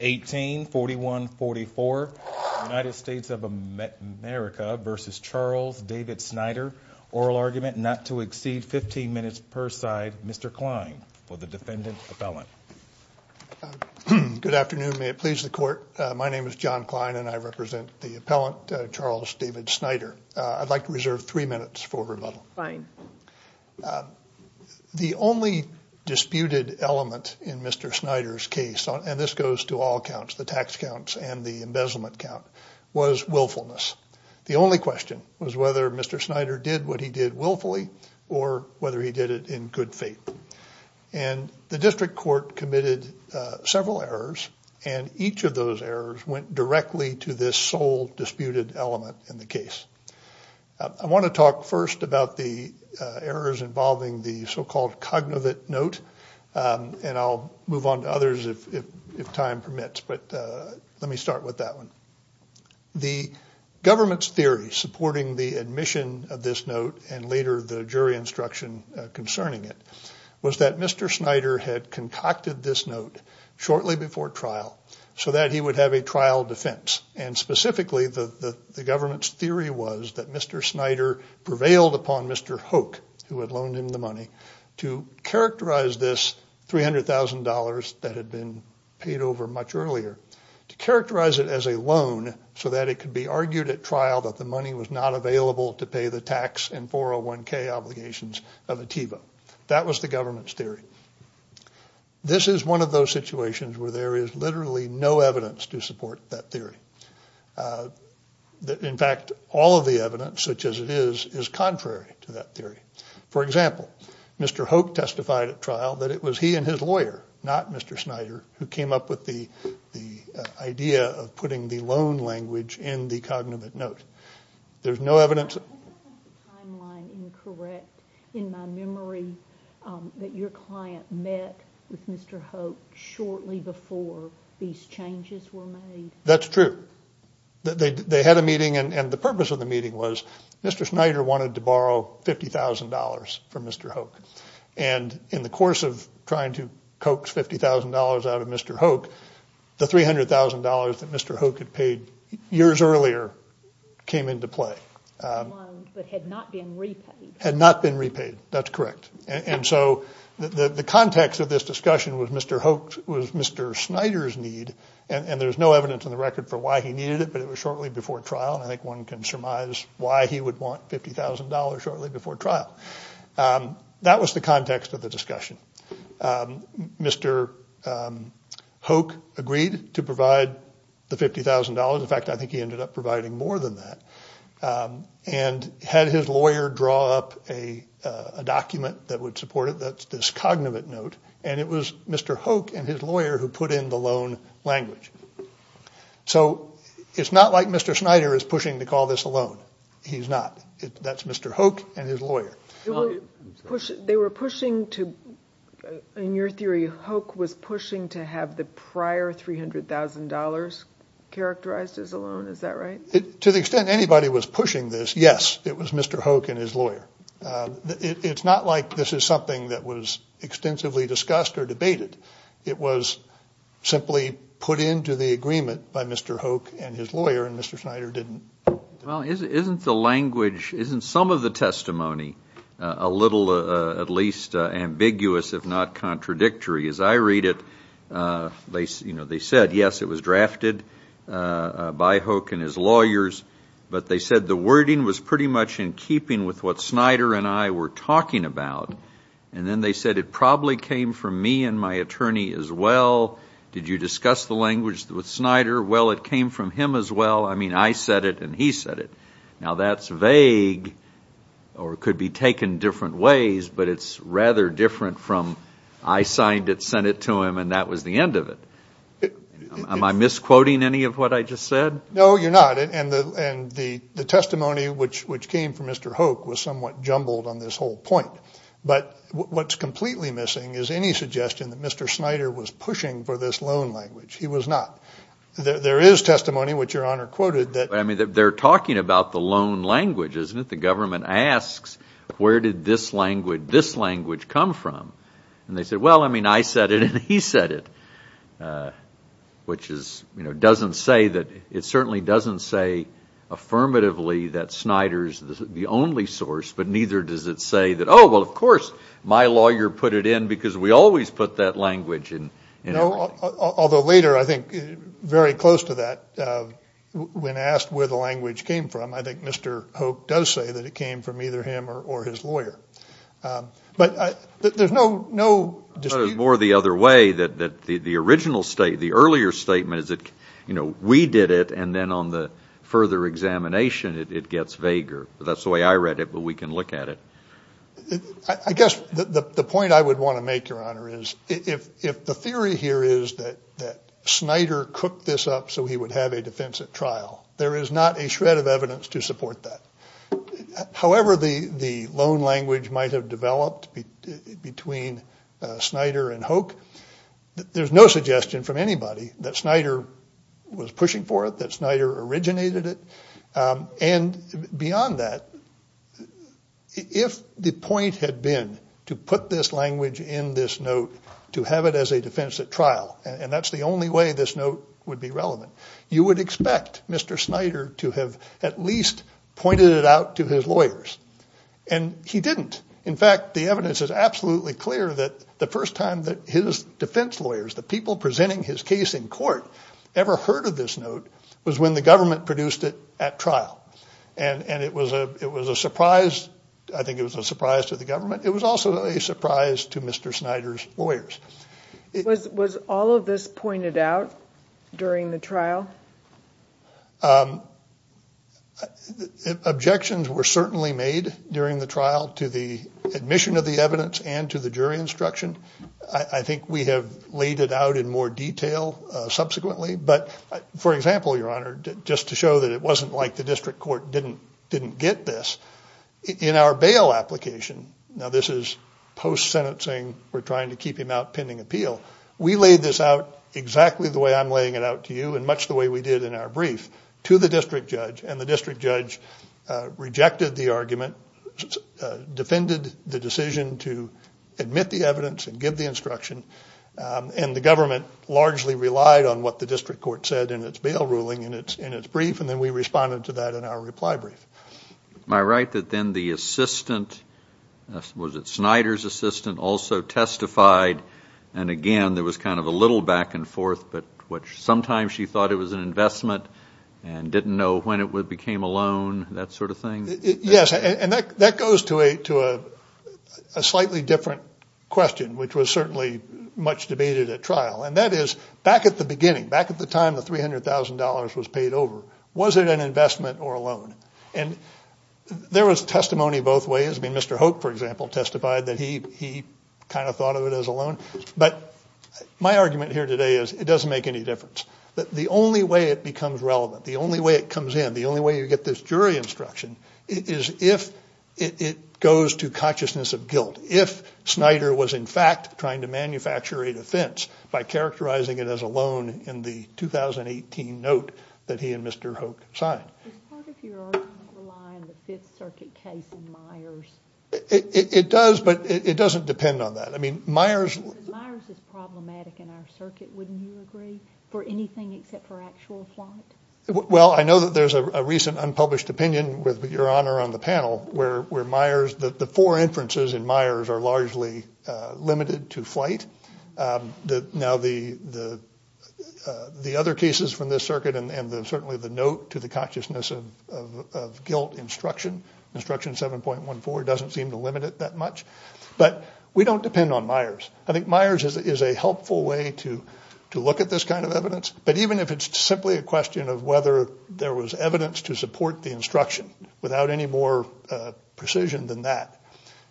1841 44 United States of America versus Charles David Snyder oral argument not to exceed 15 minutes per side. Mr. Klein for the defendant appellant. Good afternoon may it please the court my name is John Klein and I represent the appellant Charles David Snyder. I'd like to reserve three minutes for rebuttal. The only disputed element in Mr. Snyder's case and this goes to all counts the tax counts and the embezzlement count was willfulness. The only question was whether Mr. Snyder did what he did willfully or whether he did it in good faith and the district court committed several errors and each of those errors went directly to this sole disputed element in the case. I want to talk first about the errors involving the so-called cognitive note and I'll move on to others if time permits but let me start with that one. The government's theory supporting the admission of this note and later the jury instruction concerning it was that Mr. Snyder had concocted this note shortly before trial so that he would have a trial defense and specifically the government's theory was that Mr. Snyder prevailed upon Mr. Hoke who had loaned him the money to characterize this $300,000 that had been paid over much earlier to characterize it as a loan so that it could be argued at trial that the money was not available to pay the tax and 401k obligations of a TIVA. That was the government's theory. This is one of those situations where there is in fact all of the evidence such as it is is contrary to that theory. For example, Mr. Hoke testified at trial that it was he and his lawyer not Mr. Snyder who came up with the the idea of putting the loan language in the cognitive note. There's no evidence that your client met with Mr. Hoke shortly before these They had a meeting and the purpose of the meeting was Mr. Snyder wanted to borrow $50,000 from Mr. Hoke and in the course of trying to coax $50,000 out of Mr. Hoke, the $300,000 that Mr. Hoke had paid years earlier came into play, had not been repaid. That's correct and so the context of this discussion was Mr. Hoke was Mr. Snyder's need and there's no evidence in the record for why he wanted $50,000 shortly before trial. I think one can surmise why he would want $50,000 shortly before trial. That was the context of the discussion. Mr. Hoke agreed to provide the $50,000. In fact, I think he ended up providing more than that and had his lawyer draw up a document that would support it. That's this cognitive note and it was Mr. Hoke and his lawyer who put in the loan language. So it's not like Mr. Snyder is pushing to call this a loan. He's not. That's Mr. Hoke and his lawyer. They were pushing to, in your theory, Hoke was pushing to have the prior $300,000 characterized as a loan, is that right? To the extent anybody was pushing this, yes, it was Mr. Hoke and his lawyer. It's not like this is something that was extensively discussed or debated. It was simply put into the agreement by Mr. Hoke and his lawyer and Mr. Snyder didn't. Well, isn't the language, isn't some of the testimony a little at least ambiguous, if not contradictory? As I read it, they said yes, it was drafted by Hoke and his lawyers, but they said the wording was pretty much in keeping with what Snyder and I were talking about. And then they said it probably came from me and my attorney as well. Did you discuss the language with Snyder? Well, it came from him as well. I mean, I said it and he said it. Now that's vague or could be taken different ways, but it's rather different from I signed it, sent it to him, and that was the end of it. Am I misquoting any of what I just said? No, you're not. And the testimony which came from Mr. Hoke was somewhat jumbled on this whole point. But what's completely missing is any suggestion that Mr. Snyder was pushing for this loan language. He was not. There is testimony which your honor quoted that... I mean they're talking about the loan language, isn't it? The government asks where did this language come from? And they said, well, I mean I said it and he said it. Which is, you know, doesn't say that, it certainly doesn't say affirmatively that Snyder's the only source, but neither does it say that, oh well, of course my lawyer put it in because we always put that language in. Although later, I think very close to that, when asked where the language came from, I think Mr. Hoke does say that it came from either him or his lawyer. But there's no dispute. Or the other way that the original state, the earlier statement is that, you know, we did it and then on the further examination it gets vaguer. That's the way I read it, but we can look at it. I guess the point I would want to make, your honor, is if the theory here is that Snyder cooked this up so he would have a defensive trial, there is not a shred of evidence to support that. However the loan language might have developed between Snyder and Hoke, there's no suggestion from anybody that Snyder originated it. And beyond that, if the point had been to put this language in this note to have it as a defensive trial, and that's the only way this note would be relevant, you would expect Mr. Snyder to have at least pointed it out to his lawyers. And he didn't. In fact, the evidence is absolutely clear that the first time that his defense lawyers, the people presenting his case in court, ever heard of this note was when the government produced it at trial. And it was a surprise, I think it was a surprise to the government, it was also a surprise to Mr. Snyder's lawyers. Was all of this pointed out during the trial? Objections were certainly made during the trial to the admission of the evidence and to the jury instruction. I think we have laid it out in more detail subsequently, but for example, your honor, just to show that it wasn't like the district court didn't get this, in our bail application, now this is post sentencing, we're trying to keep him out pending appeal, we laid this out exactly the way I'm laying it out to you and much the way we did in our brief, to the district judge. And the district judge rejected the argument, defended the decision to admit the evidence and give the instruction, and the government largely relied on what the district court said in its bail ruling in its brief, and then we responded to that in our reply brief. Am I right that then the assistant, was it Snyder's assistant, also testified and again there was kind of a little back and forth, but which sometimes she thought it was an investment and didn't know when it would became a loan, that sort of thing? Yes, and that goes to a slightly different question, which was certainly much debated at trial, and that is back at the beginning, back at the time the $300,000 was paid over, was it an investment or a loan? And there was testimony both ways, I mean Mr. Hope, for example, testified that he kind of thought of it as a loan, but my argument here today is it doesn't make any difference, that the only way it becomes relevant, the only way it comes in, the only way you get this jury instruction, is if it goes to consciousness of guilt, if Snyder was in fact trying to manufacture a defense by characterizing it as a loan in the 2018 note that he and Mr. Hope signed. It does, but it doesn't depend on that, I mean Myers, well I know that there's a recent unpublished opinion with your honor on the panel, where Myers, that the four inferences in Myers are largely limited to flight, now the other cases from this circuit and certainly the note to the consciousness of guilt instruction, instruction 7.14, doesn't seem to limit it that much, but we don't depend on Myers. I think Myers is a helpful way to look at this kind of evidence, but even if it's simply a question of whether there was evidence to support the instruction without any more precision than that,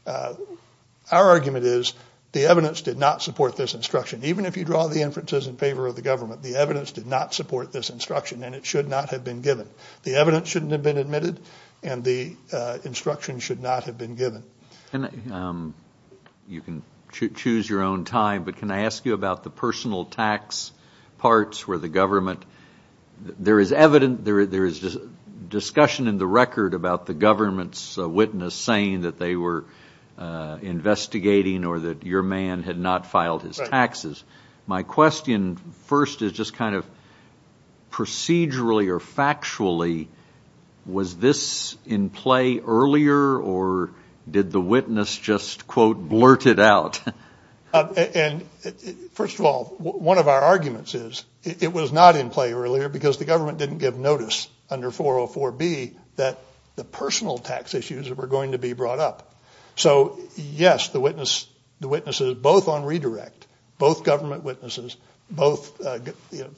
our argument is the evidence did not support this instruction, even if you draw the inferences in favor of the government, the evidence did not support this instruction and it should not have been given. The evidence shouldn't have been admitted and the instruction should not have been given. And you can choose your own time, but can I ask you about the personal tax parts where the government, there is evidence, there is discussion in the record about the government's witness saying that they were investigating or that your man had not filed his taxes. My question first is just kind of procedurally or factually, was this in play earlier or did the witness just quote blurt it out? And first of all, one of our arguments is it was not in play earlier because the government didn't give notice under 404 B that the personal tax issues that were going to be brought up. So yes, the witness is both on redirect, both government witnesses, both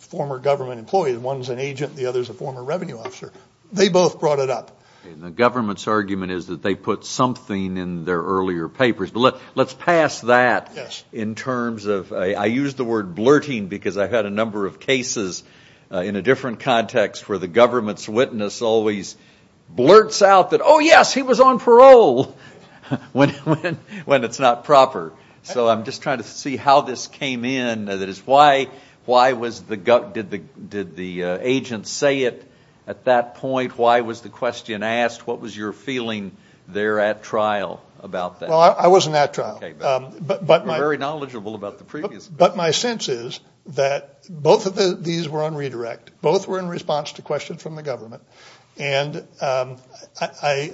former government employees, one's an agent, the other's a former revenue officer. They both brought it up. And the government's argument is that they put something in their earlier papers, but let's pass that in terms of, I use the word cases in a different context where the government's witness always blurts out that, oh yes, he was on parole when it's not proper. So I'm just trying to see how this came in. That is why was the, did the agent say it at that point? Why was the question asked? What was your feeling there at trial about that? Well, I wasn't at trial, but my sense is that both of these were on redirect. Both were in response to questions from the government, and I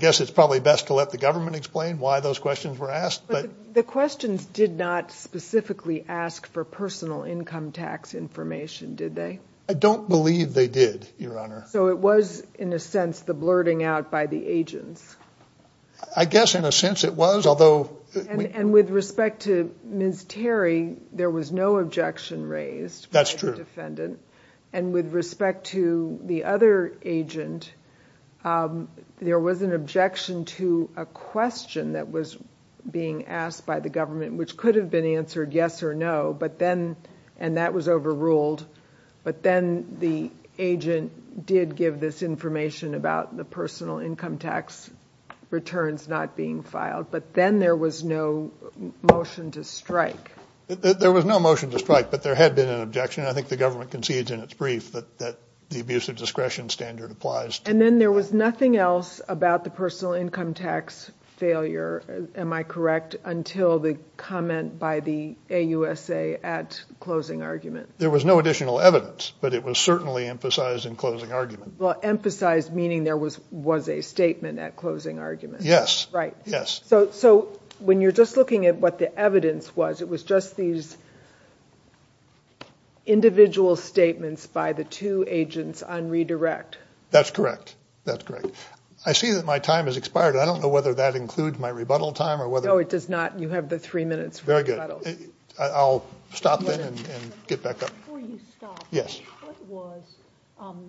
guess it's probably best to let the government explain why those questions were asked. But the questions did not specifically ask for personal income tax information, did they? I don't believe they did, Your Honor. So it was, in a sense, the blurting out by the agents. I guess in a sense it was, although... And with respect to Ms. Terry, there was no objection raised by the defendant. And with respect to the other agent, there was an objection to a question that was being asked by the government, which could have been answered yes or no, but then, and that was overruled, but then the agent did give this information about the personal income tax returns not being filed. But then there was no motion to strike. There was no motion to strike, but there had been an objection. I think the government concedes in its brief that that the abuse of discretion standard applies. And then there was nothing else about the personal income tax failure, am I correct, until the comment by the AUSA at closing argument. There was no additional evidence, but it was certainly emphasized in closing argument. Well, emphasized meaning there was was a argument. Yes. Right. Yes. So when you're just looking at what the evidence was, it was just these individual statements by the two agents on redirect. That's correct. That's correct. I see that my time has expired. I don't know whether that includes my rebuttal time or whether... No, it does not. You have the three presentation of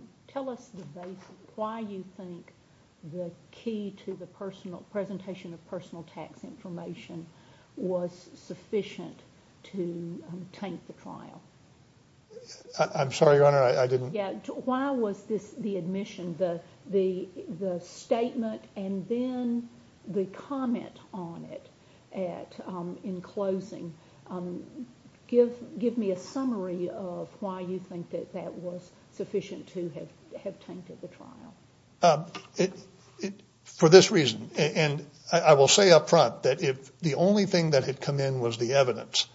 personal tax information was sufficient to taint the trial. I'm sorry, Your Honor, I didn't... Yeah, why was this the admission, the statement and then the comment on it at, in closing? Give me a summary of why you think that that was sufficient to have tainted the trial. For this reason, and I will say up front that if the only thing that had come in was the evidence,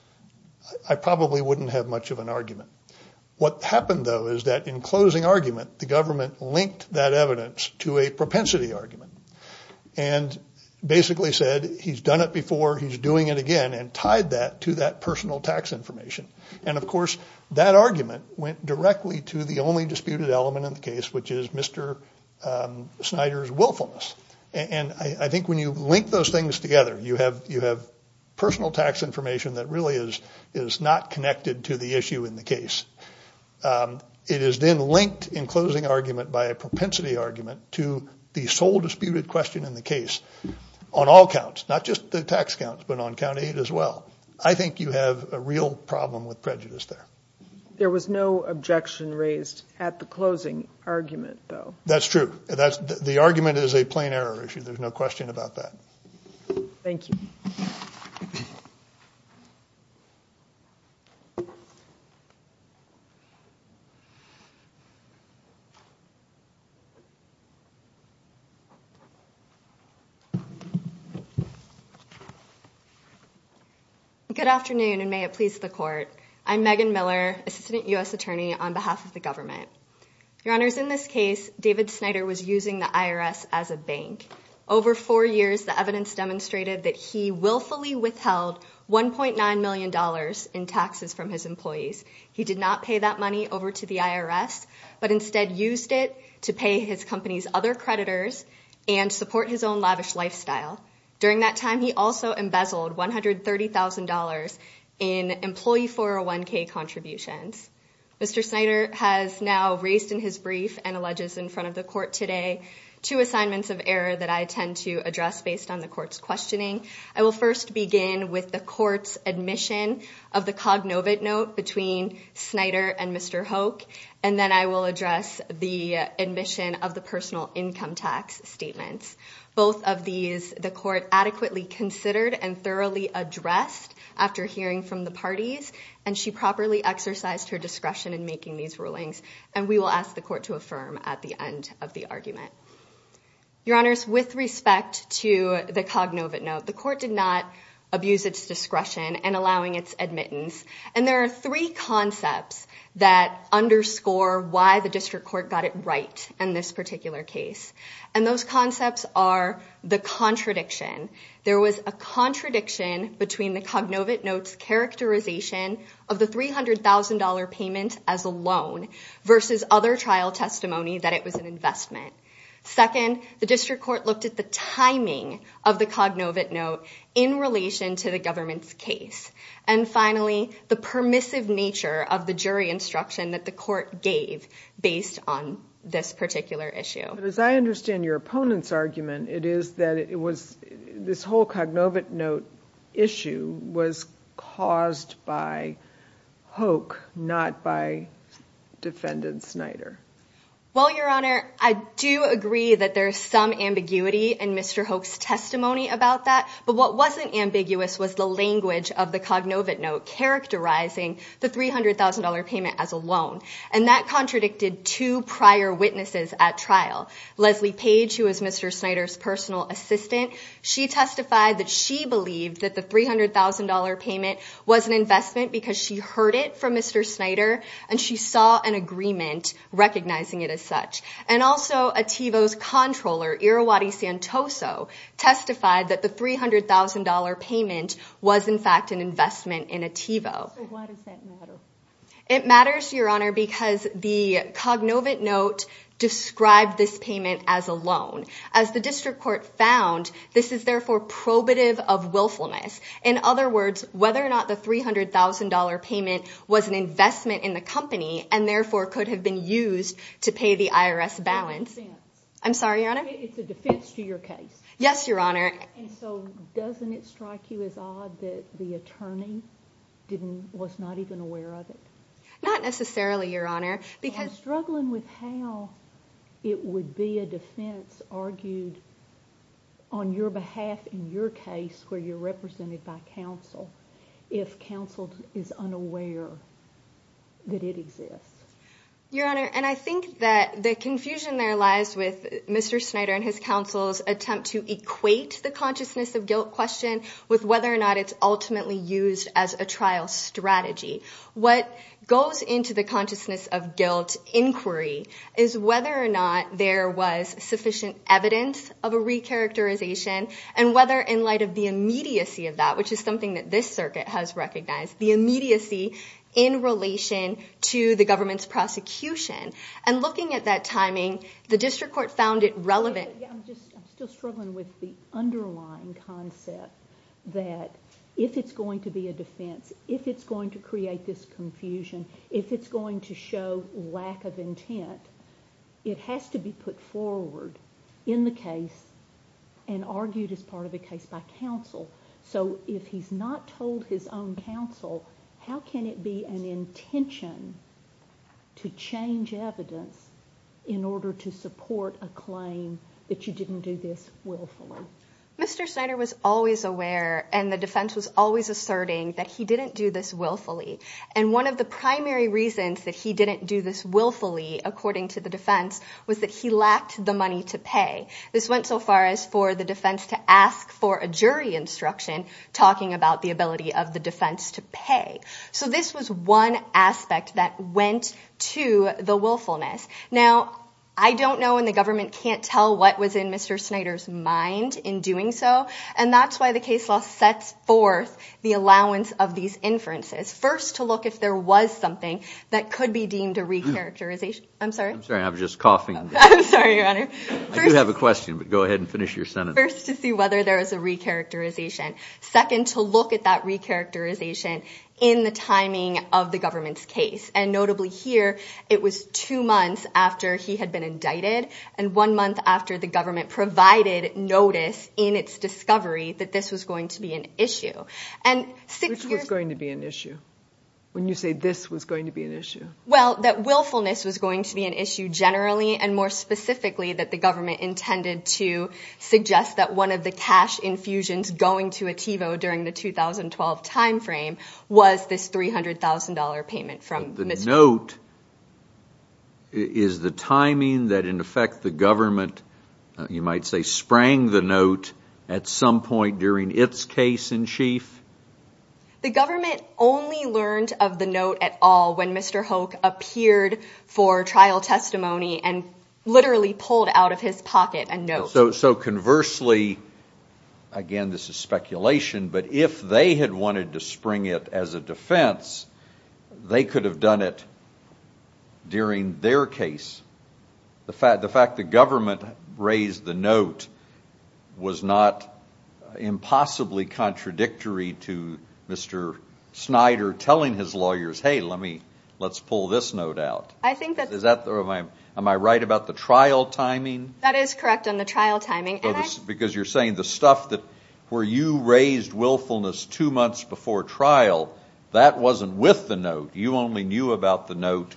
I probably wouldn't have much of an argument. What happened, though, is that in closing argument, the government linked that evidence to a propensity argument and basically said he's done it before, he's doing it again, and tied that to that directly to the only disputed element in the case, which is Mr. Snyder's willfulness. And I think when you link those things together, you have personal tax information that really is not connected to the issue in the case. It is then linked in closing argument by a propensity argument to the sole disputed question in the case on all counts, not just the tax counts, but on count eight as well. I think you have a real problem with prejudice there. There was no objection raised at the closing argument, though. That's true. The argument is a plain error issue. There's no question about that. Thank you. Good afternoon, and may it please the court. I'm Megan Miller, Assistant U.S. Attorney on behalf of the government. Your Honors, in this case, David Snyder was using the IRS as a bank. Over four years, the evidence demonstrated that he willfully withheld $1.9 million in taxes from his employees. He did not pay that money over to the IRS, but instead used it to pay his company's other creditors and support his own lavish lifestyle. During that time, he also embezzled $130,000 in employee 401k contributions. Mr. Snyder has now raised in his brief and alleges in front of the court today two assignments of error that I tend to first begin with the court's admission of the Cognovant Note between Snyder and Mr. Hoke, and then I will address the admission of the personal income tax statements. Both of these, the court adequately considered and thoroughly addressed after hearing from the parties, and she properly exercised her discretion in making these rulings, and we will ask the court to affirm at the end of the argument. Your Honors, with respect to the Cognovant Note, the court did not abuse its discretion in allowing its admittance, and there are three concepts that underscore why the district court got it right in this particular case, and those concepts are the contradiction. There was a contradiction between the Cognovant Note's characterization of the $300,000 payment as a loan versus other trial testimony that it was an investment. Second, the district court looked at the timing of the Cognovant Note in relation to the government's case, and finally, the permissive nature of the jury instruction that the court gave based on this particular issue. As I understand your opponent's argument, it is that it was this whole Cognovant Note issue was caused by Hoke, not by defendant Snyder. Well, Your Honor, I do agree that there's some ambiguity in Mr. Hoke's testimony about that, but what wasn't ambiguous was the language of the Cognovant Note characterizing the $300,000 payment as a loan, and that contradicted two prior witnesses at trial. Leslie Page, who was Mr. Snyder's personal assistant, she testified that she believed that the $300,000 payment was an investment because she heard it from Mr. Snyder, and she saw an agreement recognizing it as such. And also, Ativo's controller, Irrawaddy Santoso, testified that the $300,000 payment was in fact an investment in Ativo. It matters, Your Honor, because the Cognovant Note described this payment as a loan. As the district court found, this is therefore probative of willfulness. In other words, whether or not the $300,000 payment was an investment in the company, and therefore could have been used to pay the IRS balance. It's a defense. I'm sorry, Your Honor? It's a defense to your case. Yes, Your Honor. And so, doesn't it strike you as odd that the attorney was not even aware of it? Not necessarily, Your Honor, because... I'm struggling with how it would be a defense argued on your behalf in your case, where you're represented by counsel, if counsel is unaware that it exists. Your Honor, and I think that the confusion there lies with Mr. Snyder and his counsel's attempt to equate the consciousness of guilt question with whether or not it's ultimately used as a trial strategy. What goes into the consciousness of guilt inquiry is whether or not there was sufficient evidence of a re-characterization, and whether in light of the immediacy of that, which is something that this circuit has recognized, the immediacy in relation to the government's prosecution. And looking at that timing, the district court found it relevant. I'm still struggling with the underlying concept that if it's going to be a defense, if it's going to be a defense, it has to be put forward in the case and argued as part of a case by counsel. So if he's not told his own counsel, how can it be an intention to change evidence in order to support a claim that you didn't do this willfully? Mr. Snyder was always aware, and the defense was always asserting, that he didn't do this willfully. And one of the primary reasons that he didn't do this willfully, according to the defense, was that he lacked the money to pay. This went so far as for the defense to ask for a jury instruction, talking about the ability of the defense to pay. So this was one aspect that went to the willfulness. Now, I don't know, and the government can't tell what was in Mr. Snyder's mind in doing so, and that's why the case law sets forth the allowance of these inferences. First, to look if there was something that could be deemed a re-characterization. I'm sorry? I'm sorry, I was just coughing. I'm sorry, your honor. I do have a question, but go ahead and finish your sentence. First, to see whether there is a re-characterization. Second, to look at that re-characterization in the timing of the government's case. And notably here, it was two months after he had been indicted, and one month after the government provided notice in its discovery that this was going to be an issue. Which was going to be an issue? When you say this was going to be an issue? Well, that willfulness was going to be an issue generally, and more specifically, that the government intended to suggest that one of the cash infusions going to Ativo during the 2012 time frame was this $300,000 payment from Mr. The note is the timing that in effect the government, you might say, sprang the note at some point during its case in chief? The government only learned of the note at all when Mr. Hoke appeared for trial testimony and literally pulled out of his pocket a note. So conversely, again, this is speculation, but if they had wanted to spring it as a defense, they could have done it during their case. The fact the government raised the note was not impossibly contradictory to Mr. Snyder telling his lawyers, hey, let's pull this note out. Am I right about the trial timing? That is correct on the trial timing. Because you're saying the stuff where you raised willfulness two months before trial, that wasn't with the note. You only knew about the note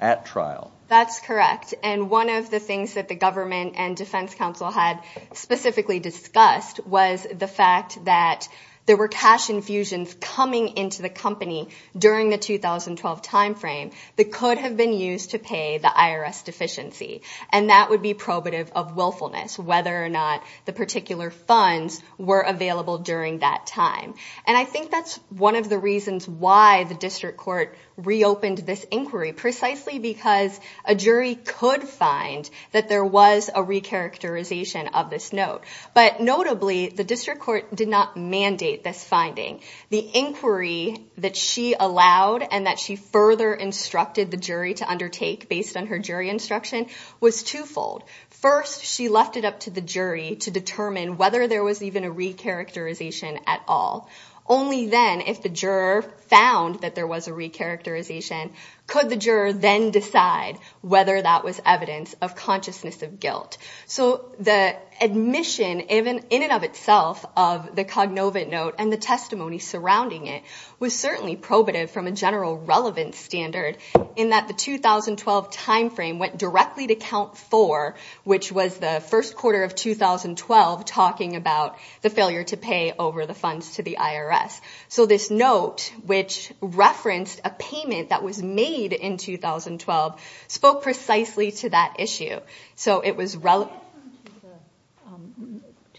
at trial. That's correct. And one of the things that the government and defense counsel had specifically discussed was the fact that there were cash infusions coming into the company during the 2012 time frame that could have been used to pay the IRS deficiency. And that would be probative of willfulness, whether or not the particular funds were available during that time. And I think that's one of the reasons why the district court reopened this inquiry, precisely because a jury could find that there was a recharacterization of this note. But notably, the district court did not mandate this finding. The inquiry that she allowed and that she further instructed the jury to undertake based on her jury instruction was twofold. First, she left it up to the jury to determine whether there was even a recharacterization at all. Only then, if the juror found that there was a recharacterization, could the juror then decide whether that was evidence of consciousness of guilt. So the admission, in and of itself, of the Cognovant note and the testimony surrounding it was certainly probative from a general relevance standard in that the 2012 time frame went directly to count four, which was the first quarter of 2012, talking about the failure to pay over the funds to the IRS. So this note, which referenced a payment that was made in 2012, spoke precisely to that issue. So it was relevant...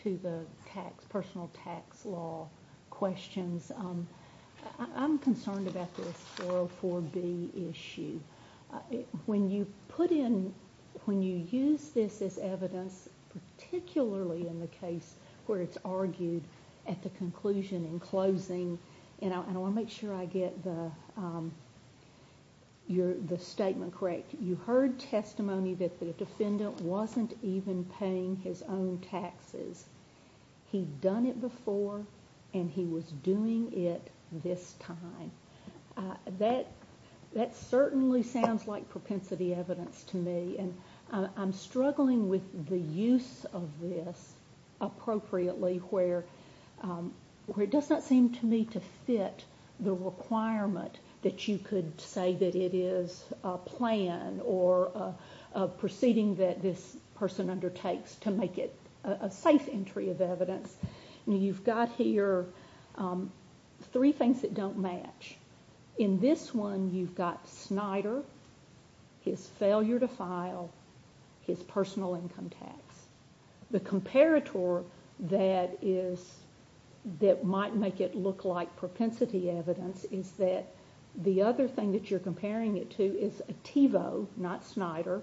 To the personal tax law questions, I'm concerned about this 404B issue. When you put in, when you use this as evidence, particularly in the case where it's argued at the conclusion and closing, and I want to make sure I get the statement correct, you heard testimony that the defendant wasn't even paying his own taxes. He'd done it before, and he was doing it this time. That certainly sounds like propensity evidence to me. I'm struggling with the use of this appropriately where it does not seem to me to fit the requirement that you could say that it is a plan or a proceeding that this person undertakes to make it a safe entry of evidence. You've got here three things that don't match. In this one, you've got Snyder, his failure to file, his personal income tax. The comparator that might make it look like propensity evidence is that the other thing that you're comparing it to is Ativo, not Snyder,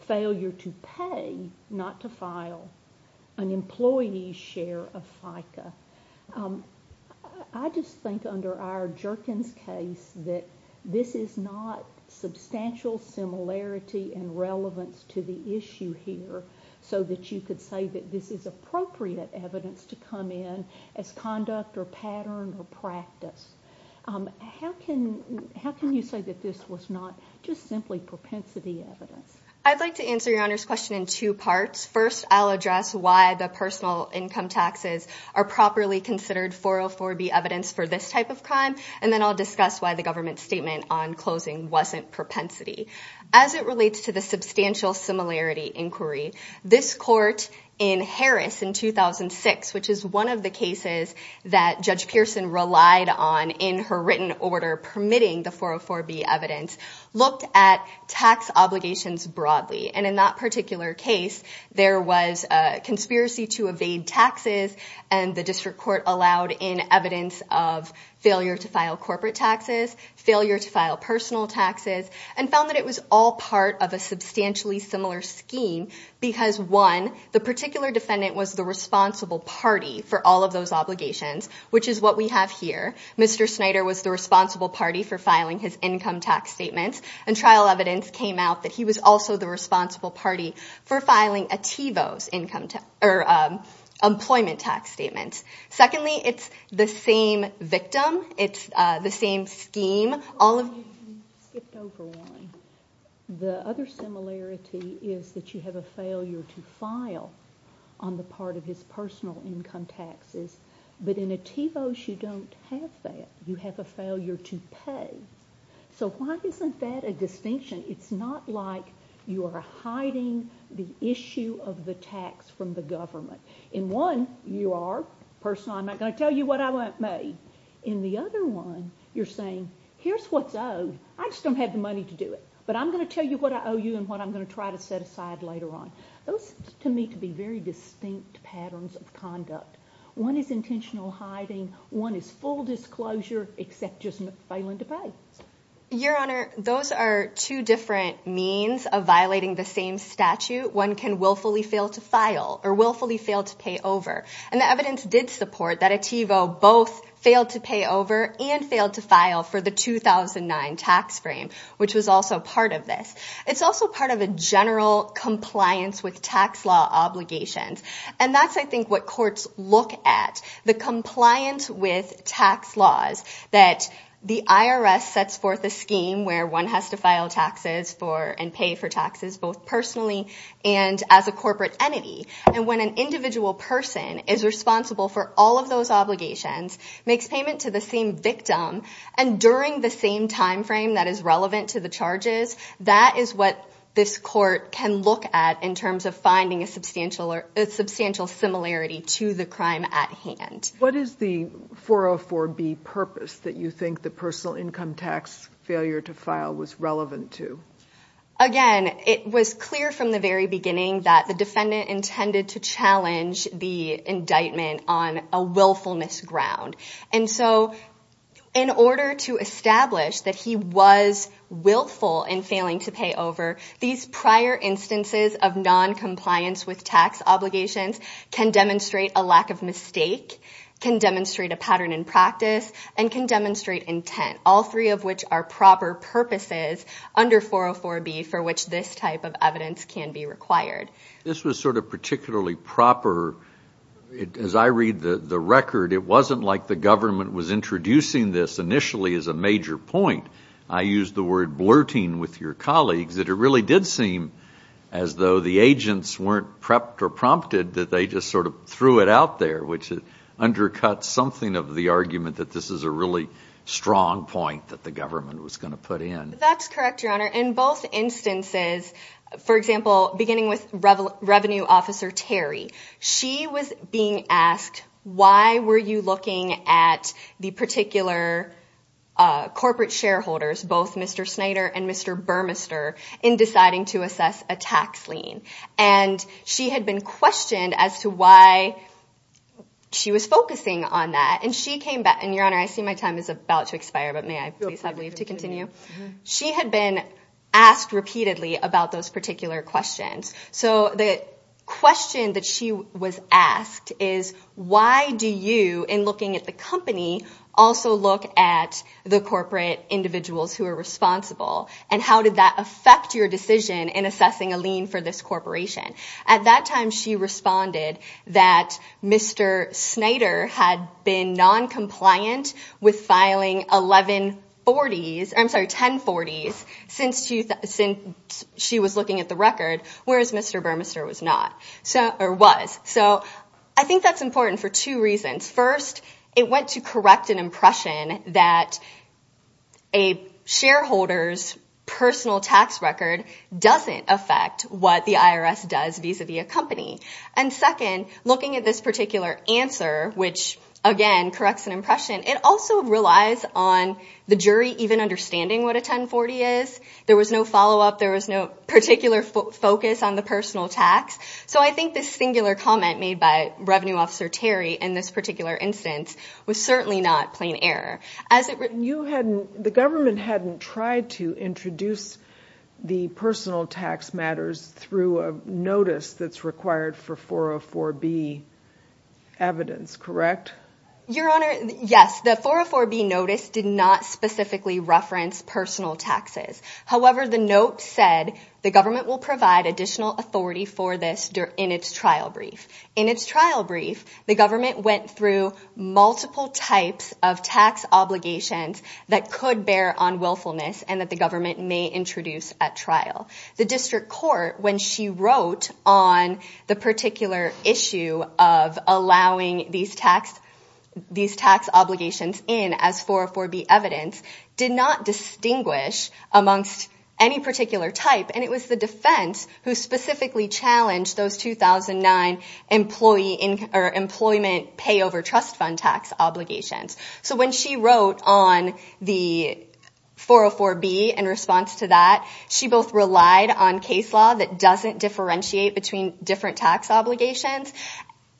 failure to pay, not to file, an employee's share of FICA. I just think under our Jerkins case that this is not substantial similarity and relevance to the issue here so that you could say that this is appropriate evidence to come in as conduct or pattern or practice. How can you say that this was not just simply propensity evidence? I'd like to answer your Honor's question in two parts. First, I'll address why the personal income taxes are properly considered 404B evidence for this type of crime, and then I'll discuss why the government's statement on closing wasn't propensity. As it relates to the substantial similarity inquiry, this court in Harris in 2006, which is one of the cases that Judge Pearson relied on in her written order permitting the 404B evidence, looked at tax obligations broadly. In that particular case, there was a conspiracy to evade taxes, and the district court allowed in evidence of failure to file corporate taxes, failure to file personal taxes, and found that it was all part of a substantially similar scheme because one, the particular defendant was the responsible party for all of those obligations, which is what we have here. Mr. Snyder was the responsible party for filing his income tax statements, and trial evidence came out that he was also the responsible party for filing Ativo's employment tax statements. Secondly, it's the same victim. It's the same scheme. The other similarity is that you have a failure to file on the part of his personal income taxes, but in Ativos, you don't have that. You have a failure to pay. So why isn't that a distinction? It's not like you are hiding the issue of the tax from the government. In one, you are, personally, I'm not going to tell you what I want made. In the other one, you're saying, here's what's owed. I just don't have the money to do it, but I'm going to tell you what I owe you and what I'm going to try to set aside later on. Those seem to me to be very distinct patterns of conduct. One is intentional hiding. One is full disclosure, except just failing to pay. Your Honor, those are two different means of violating the same statute. One can willfully fail to file, or willfully fail to pay over. And the evidence did support that Ativo both failed to pay over and failed to file for the 2009 tax frame, which was also part of this. It's also part of a general compliance with tax law obligations. And that's, I think, what courts look at. The compliance with tax laws that the IRS sets forth a scheme where one has to file taxes and pay for taxes both personally and as a corporate entity. And when an individual person is responsible for all of those obligations, makes payment to the same victim, and during the same time frame that is relevant to the charges, that is what this court can look at in terms of finding a substantial similarity to the crime at hand. What is the 404B purpose that you think the personal income tax failure to file was relevant to? Again, it was clear from the very beginning that the defendant intended to challenge the indictment on a willfulness ground. And so, in order to establish that he was willful in failing to pay over, these prior instances of non-compliance with tax obligations can demonstrate a lack of mistake, can demonstrate a pattern in practice, and can demonstrate intent. All three of which are proper purposes under 404B for which this type of evidence can be required. This was sort of particularly proper. As I read the record, it wasn't like the government was introducing this initially as a major point. I used the word blurting with your colleagues that it really did seem as though the agents weren't prepped or prompted that they just sort of threw it out there, which undercuts something of the argument that this is a really strong point that the government was going to put in. That's correct, Your Honor. In both instances, for example, beginning with Revenue Officer Terry, she was being asked, why were you looking at the particular corporate shareholders, both Mr. Snyder and Mr. Burmester, in deciding to assess a tax lien? And she had been questioned as to why she was focusing on that. And she came back, and Your Honor, I see my time is about to expire, but may I please leave to continue? She had been asked repeatedly about those particular questions. So the question that she was asked is, why do you, in looking at the company, also look at the corporate individuals who are responsible? And how did that affect your decision in assessing a lien for this corporation? At that time, she responded that Mr. Snyder had been noncompliant with filing 1140s, I'm sorry, 1040s, since she was looking at the record, whereas Mr. Burmester was not, or was. So I think that's important for two reasons. First, it went to correct an impression that a shareholder's personal tax record doesn't affect what the IRS does vis-a-vis a company. And second, looking at this particular answer, which, again, corrects an impression, it also relies on the jury even understanding what a 1040 is. There was no follow-up, there was no particular focus on the personal tax. So I think this singular comment made by Revenue Officer Terry in this particular instance was certainly not plain error. You hadn't, the government hadn't tried to introduce the personal tax matters through a notice that's required for 404B evidence, correct? Your Honor, yes, the 404B notice did not specifically reference personal taxes. However, the note said the government will provide additional authority for this in its trial brief. In its trial brief, the government went through multiple types of tax obligations that could bear on willfulness and that the government may introduce at trial. The district court, when she wrote on the particular issue of allowing these tax obligations in as 404B evidence, did not distinguish amongst any particular type. And it was the defense who specifically challenged those 2009 employment pay over trust fund tax obligations. So when she wrote on the 404B in response to that, she both relied on case law that doesn't differentiate between different tax obligations,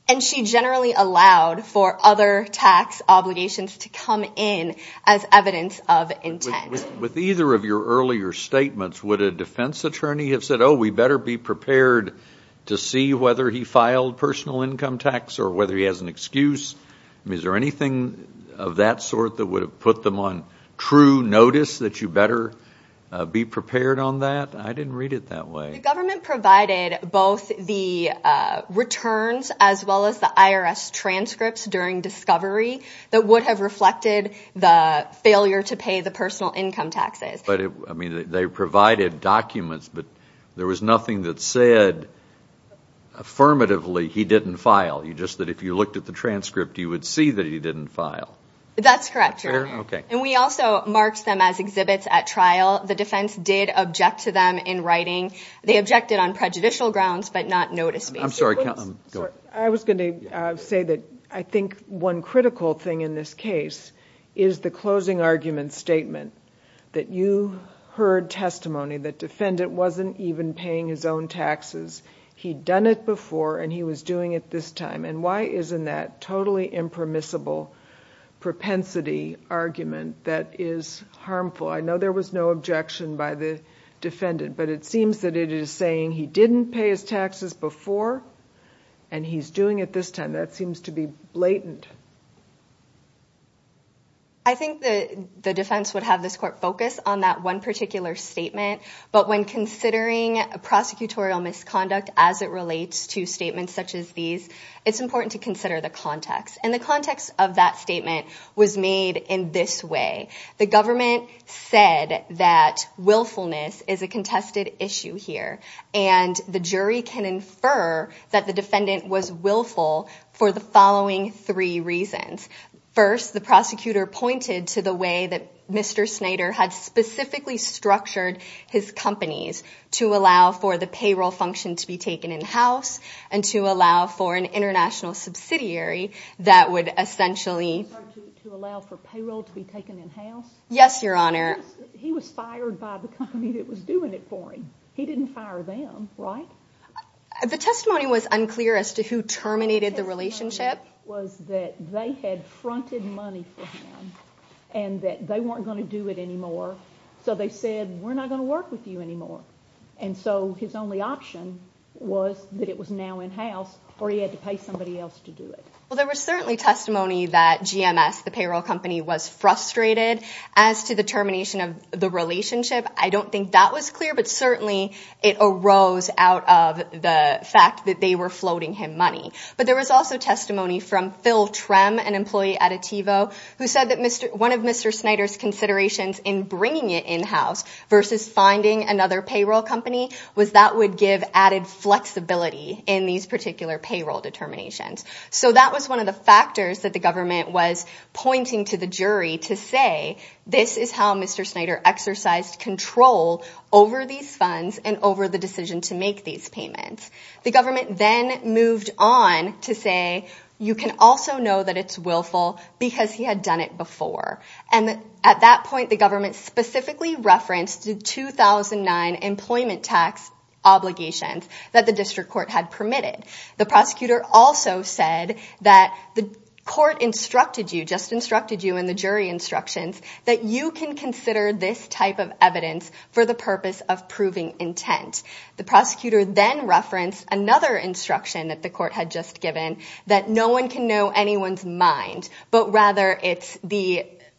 and she generally allowed for other tax obligations to come in as evidence of intent. With either of your earlier statements, would a defense attorney have said, oh, we better be prepared to see whether he filed personal income tax or whether he has an excuse? I mean, is there anything of that sort that would have put them on true notice that you better be prepared on that? I didn't read it that way. The government provided both the returns as well as the IRS transcripts during discovery that would have reflected the failure to pay the personal income taxes. I mean, they provided documents, but there was nothing that said affirmatively he didn't file. Just that if you looked at the transcript, you would see that he didn't file. That's correct. And we also marked them as exhibits at trial. The defense did object to them in writing. They objected on prejudicial grounds, but not notice-based. I was going to say that I think one critical thing in this case is the closing argument statement that you heard testimony that defendant wasn't even paying his own taxes. He'd done it before, and he was doing it this time. And why isn't that totally impermissible propensity argument that is harmful? I know there was no objection by the defendant, but it seems that it is saying he didn't pay his taxes before, and he's doing it this time. That seems to be blatant. I think the defense would have this court focus on that one particular statement, but when considering prosecutorial misconduct as it relates to statements such as these, it's important to consider the context. And the context of that statement was made in this way. The government said that willfulness is a contested issue here, and the jury can infer that the defendant was willful for the following three reasons. First, the prosecutor pointed to the way that Mr. Snyder had specifically structured his companies to allow for the payroll function to be taken in-house, and to allow for an international subsidiary that would essentially... To allow for payroll to be taken in-house? Yes, Your Honor. He was fired by the company that was doing it for him. He didn't fire them, right? The testimony was unclear as to who terminated the relationship. The testimony was that they had fronted money for him, and that they weren't going to do it anymore. So they said, we're not going to work with you anymore. And so his only option was that it was now in-house, or he had to pay somebody else to do it. Well, there was certainly testimony that GMS, the payroll company, was frustrated as to the termination of the relationship. I don't think that was clear, but certainly it arose out of the fact that they were floating him money. But there was also testimony from Phil Trem, an employee at Ativo, who said that one of Mr. Snyder's considerations in bringing it in-house versus finding another payroll company was that would give added flexibility in these particular payroll determinations. So that was one of the factors that the government was pointing to the jury to say, this is how Mr. Snyder exercised control over these funds and over the decision to make these payments. The government then moved on to say, you can also know that it's willful because he had done it before. And at that point, the government specifically referenced the 2009 employment tax obligations that the district court had permitted. The prosecutor also said that the court instructed you, just instructed you in the jury instructions, that you can consider this type of evidence for the purpose of proving intent. The prosecutor then referenced another instruction that the court had just given, that no one can know anyone's mind, but rather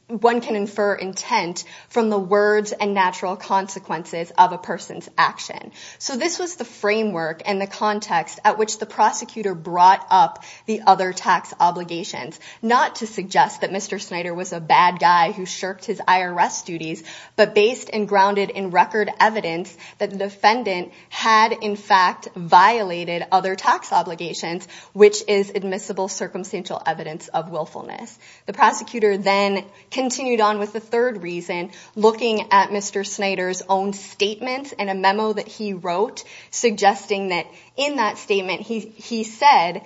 one can infer intent from the words and natural consequences of a person's action. So this was the framework and the context at which the prosecutor brought up the other tax obligations. Not to suggest that Mr. Snyder was a bad guy who shirked his IRS duties, but based and grounded in record evidence that the defendant had in fact violated other tax obligations, which is admissible circumstantial evidence of willfulness. The prosecutor then continued on with the third reason, looking at Mr. Snyder's own statements in a memo that he wrote, suggesting that in that statement he said,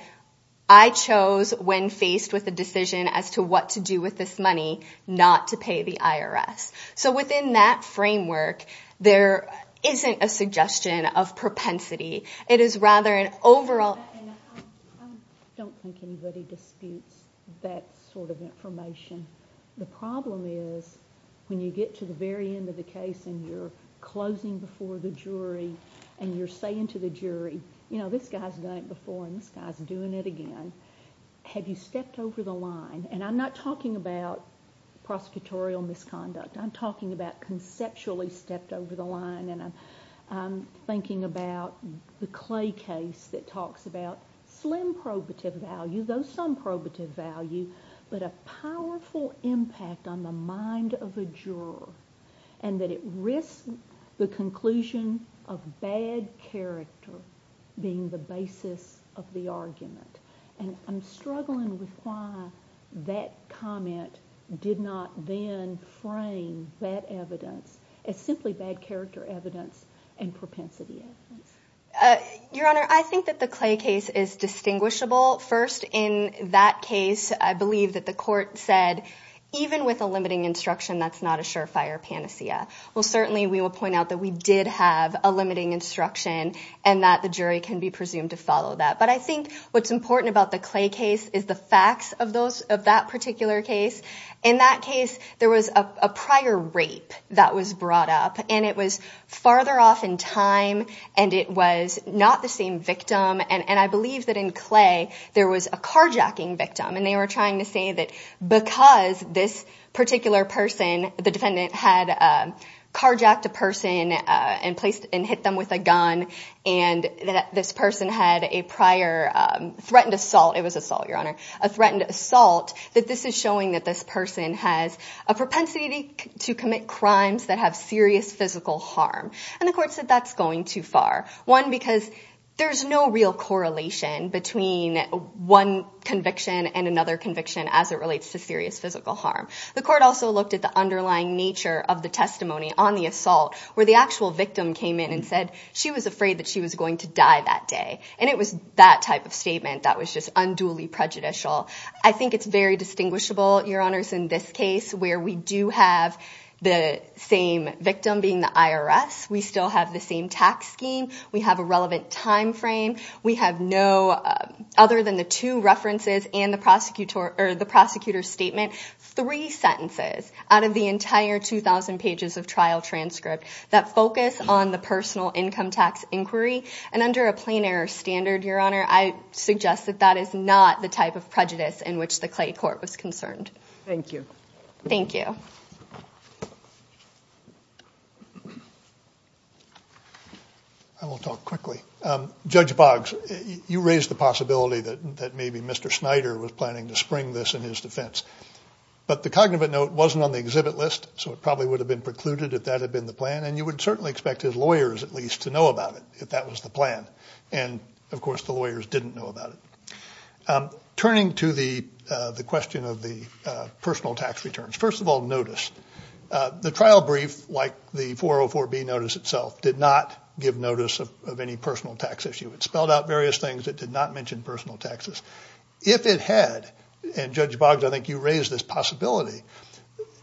I chose when faced with a decision as to what to do with this money, not to pay the IRS. So within that framework, there isn't a suggestion of propensity. It is rather an overall... I don't think anybody disputes that sort of information. The problem is when you get to the very end of the case and you're closing before the jury and you're saying to the jury, you know, this guy's done it before and this guy's doing it again, have you stepped over the line? And I'm not talking about prosecutorial misconduct. I'm talking about conceptually stepped over the line. And I'm thinking about the Clay case that talks about slim probative value, though some probative value, but a powerful impact on the mind of the juror and that it risks the conclusion of bad character being the basis of the argument. And I'm struggling with why that comment did not then frame bad evidence as simply bad character evidence and propensity evidence. Your Honor, I think that the Clay case is distinguishable. First, in that case, I believe that the court said, even with a limiting instruction, that's not a surefire panacea. Well, certainly we will point out that we did have a limiting instruction and that the jury can be presumed to follow that. But I think what's important about the Clay case is the facts of that particular case. In that case, there was a prior rape that was brought up and it was farther off in time and it was not the same victim. And I believe that in Clay, there was a carjacking victim. And they were trying to say that because this particular person, the defendant had carjacked a person and hit them with a gun and that this person had a prior threatened assault, it was assault, Your Honor, a threatened assault, that this is showing that this person has a propensity to commit crimes that have serious physical harm. And the court said that's going too far. One, because there's no real correlation between one conviction and another conviction as it relates to serious physical harm. The court also looked at the underlying nature of the testimony on the assault where the actual victim came in and said she was afraid that she was going to die that day. And it was that type of statement that was just unduly prejudicial. I think it's very distinguishable, Your Honors, in this case where we do have the same victim being the IRS. We still have the same tax scheme. We have a relevant time frame. We have no, other than the two references and the prosecutor's statement, three sentences out of the entire 2,000 pages of trial transcript that focus on the personal income tax inquiry. And under a plain error standard, Your Honor, I suggest that that is not the type of prejudice in which the Clay court was concerned. Thank you. Thank you. I will talk quickly. Judge Boggs, you raised the possibility that maybe Mr. Snyder was planning to spring this in his defense. But the cognitive note wasn't on the exhibit list, so it probably would have been precluded if that had been the plan. And you would certainly expect his lawyers, at least, to know about it, if that was the plan. And, of course, the lawyers didn't know about it. Turning to the question of the personal tax returns, first of all, notice. The trial brief, like the 404B notice itself, did not give notice of any personal tax issue. It spelled out various things. It did not mention personal taxes. If it had, and Judge Boggs, I think you raised this possibility,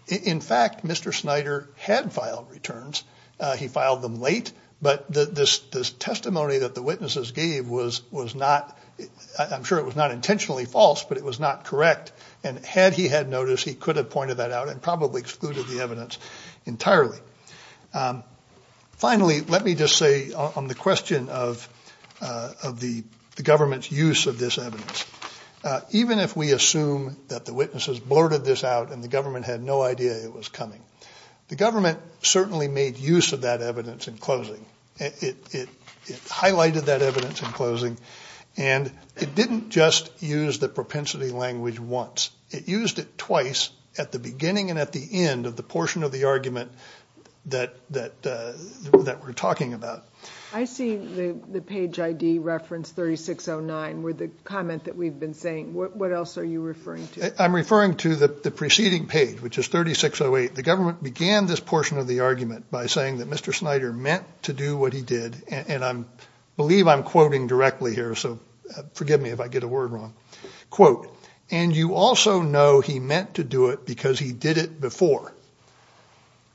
in fact, Mr. Snyder had filed returns. He filed them late. But this testimony that the witnesses gave was not, I'm sure it was not intentionally false, but it was not correct. And had he had noticed, he could have pointed that out and probably excluded the evidence entirely. Finally, let me just say on the question of the government's use of this evidence, even if we assume that the witnesses blurted this out and the government had no idea it was coming, the government certainly made use of that evidence in closing. It highlighted that evidence in closing. And it didn't just use the propensity language once. It used it twice at the beginning and at the end of the portion of the argument that we're talking about. I see the page ID reference 3609 where the comment that we've been saying, what else are you referring to? I'm referring to the preceding page, which is 3608. The government began this portion of the argument by saying that Mr. Snyder meant to do what he did. And I believe I'm quoting directly here, so forgive me if I get a word wrong. Quote, and you also know he meant to do it because he did it before.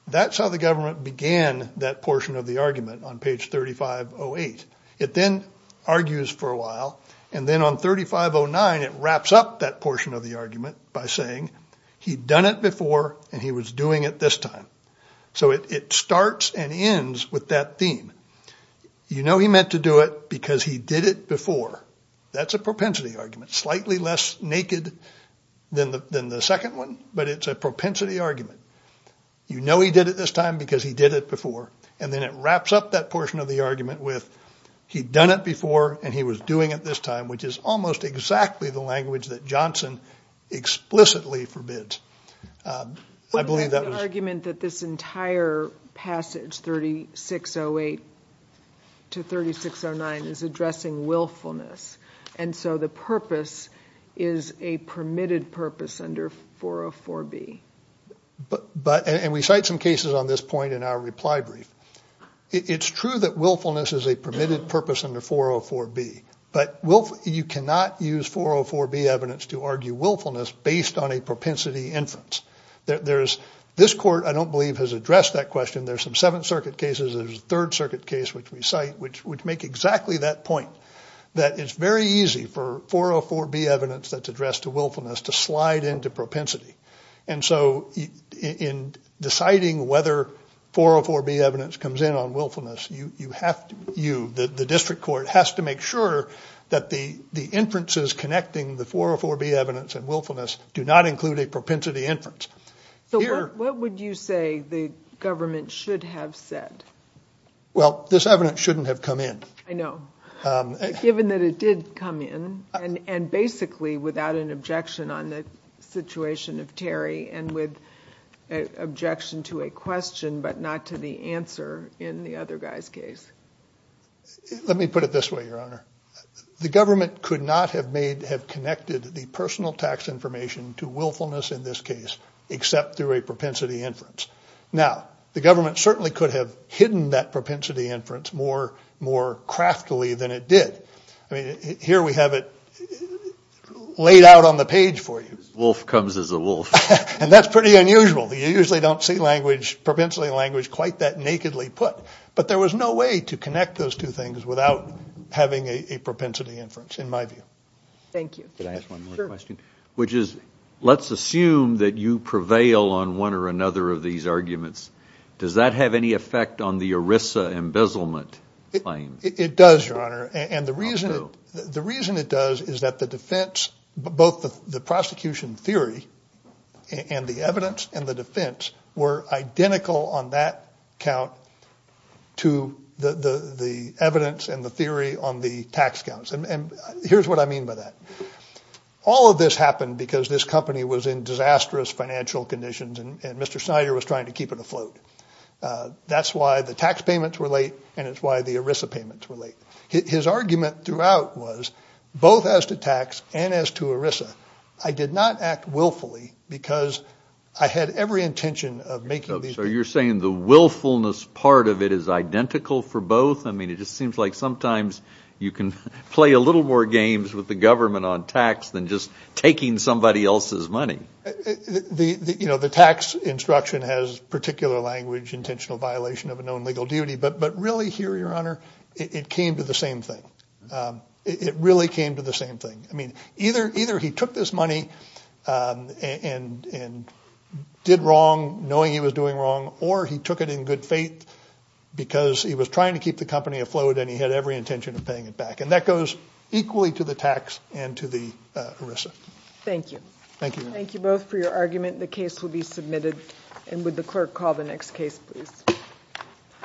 That's how the government began that portion of the argument on page 3508. It then argues for a while, and then on 3509, it wraps up that portion of the argument by saying, he'd done it before, and he was doing it this time. So it starts and ends with that theme. You know he meant to do it because he did it before. That's a propensity argument. Slightly less naked than the second one, but it's a propensity argument. You know he did it this time because he did it before. And then it wraps up that portion of the argument with, he'd done it before, and he was doing it this time, which is almost exactly the language that Johnson explicitly forbids. I believe that was... But that's the argument that this entire passage, 3608 to 3609, is addressing willfulness. And so the purpose is a permitted purpose under 404B. And we cite some cases on this point in our reply brief. It's true that willfulness is a permitted purpose under 404B, but you cannot use 404B evidence to argue willfulness based on a propensity inference. This court, I don't believe, has addressed that question. There's some Seventh Circuit cases, there's a Third Circuit case which we cite, which make exactly that point. That it's very easy for 404B evidence that's addressed to willfulness to slide into propensity. And so in deciding whether 404B evidence comes in based on willfulness, you, the district court, has to make sure that the inferences connecting the 404B evidence and willfulness do not include a propensity inference. So what would you say the government should have said? Well, this evidence shouldn't have come in. I know. Given that it did come in, and basically without an objection on the situation of Terry and with objection to a question but not to the answer in the other guy's case. Let me put it this way, Your Honor. The government could not have connected the personal tax information to willfulness in this case except through a propensity inference. Now, the government certainly could have hidden that propensity inference more craftily than it did. Here we have it laid out on the page for you. The wolf comes as a wolf. And that's pretty unusual. You usually don't see propensity language quite that nakedly put. But there was no way to connect those two things without having a propensity inference, in my view. Thank you. Let's assume that you prevail on one or another of these arguments. Does that have any effect on the ERISA embezzlement claim? It does, Your Honor. The reason it does is that the defense, both the prosecution theory and the evidence and the defense were identical on that count to the evidence and the theory on the tax counts. Here's what I mean by that. All of this happened because this company was in disastrous financial conditions and Mr. Snyder was trying to keep it afloat. That's why the tax payments were late and it's why the ERISA payments were late. His argument throughout was, both as to tax and as to ERISA, I did not act willfully because I had every intention of making these payments. So you're saying the willfulness part of it is identical for both? I mean, it just seems like sometimes you can play a little more games with the government on tax than just taking somebody else's money. The tax instruction has particular language, intentional violation of a known legal duty, but really here, Your Honor, it came to the same thing. It really came to the same thing. Either he took this money and did wrong knowing he was doing wrong or he took it in good faith because he was trying to keep the company afloat and he had every intention of paying it back. That goes equally to the tax and to the ERISA. Thank you. Thank you both for your argument.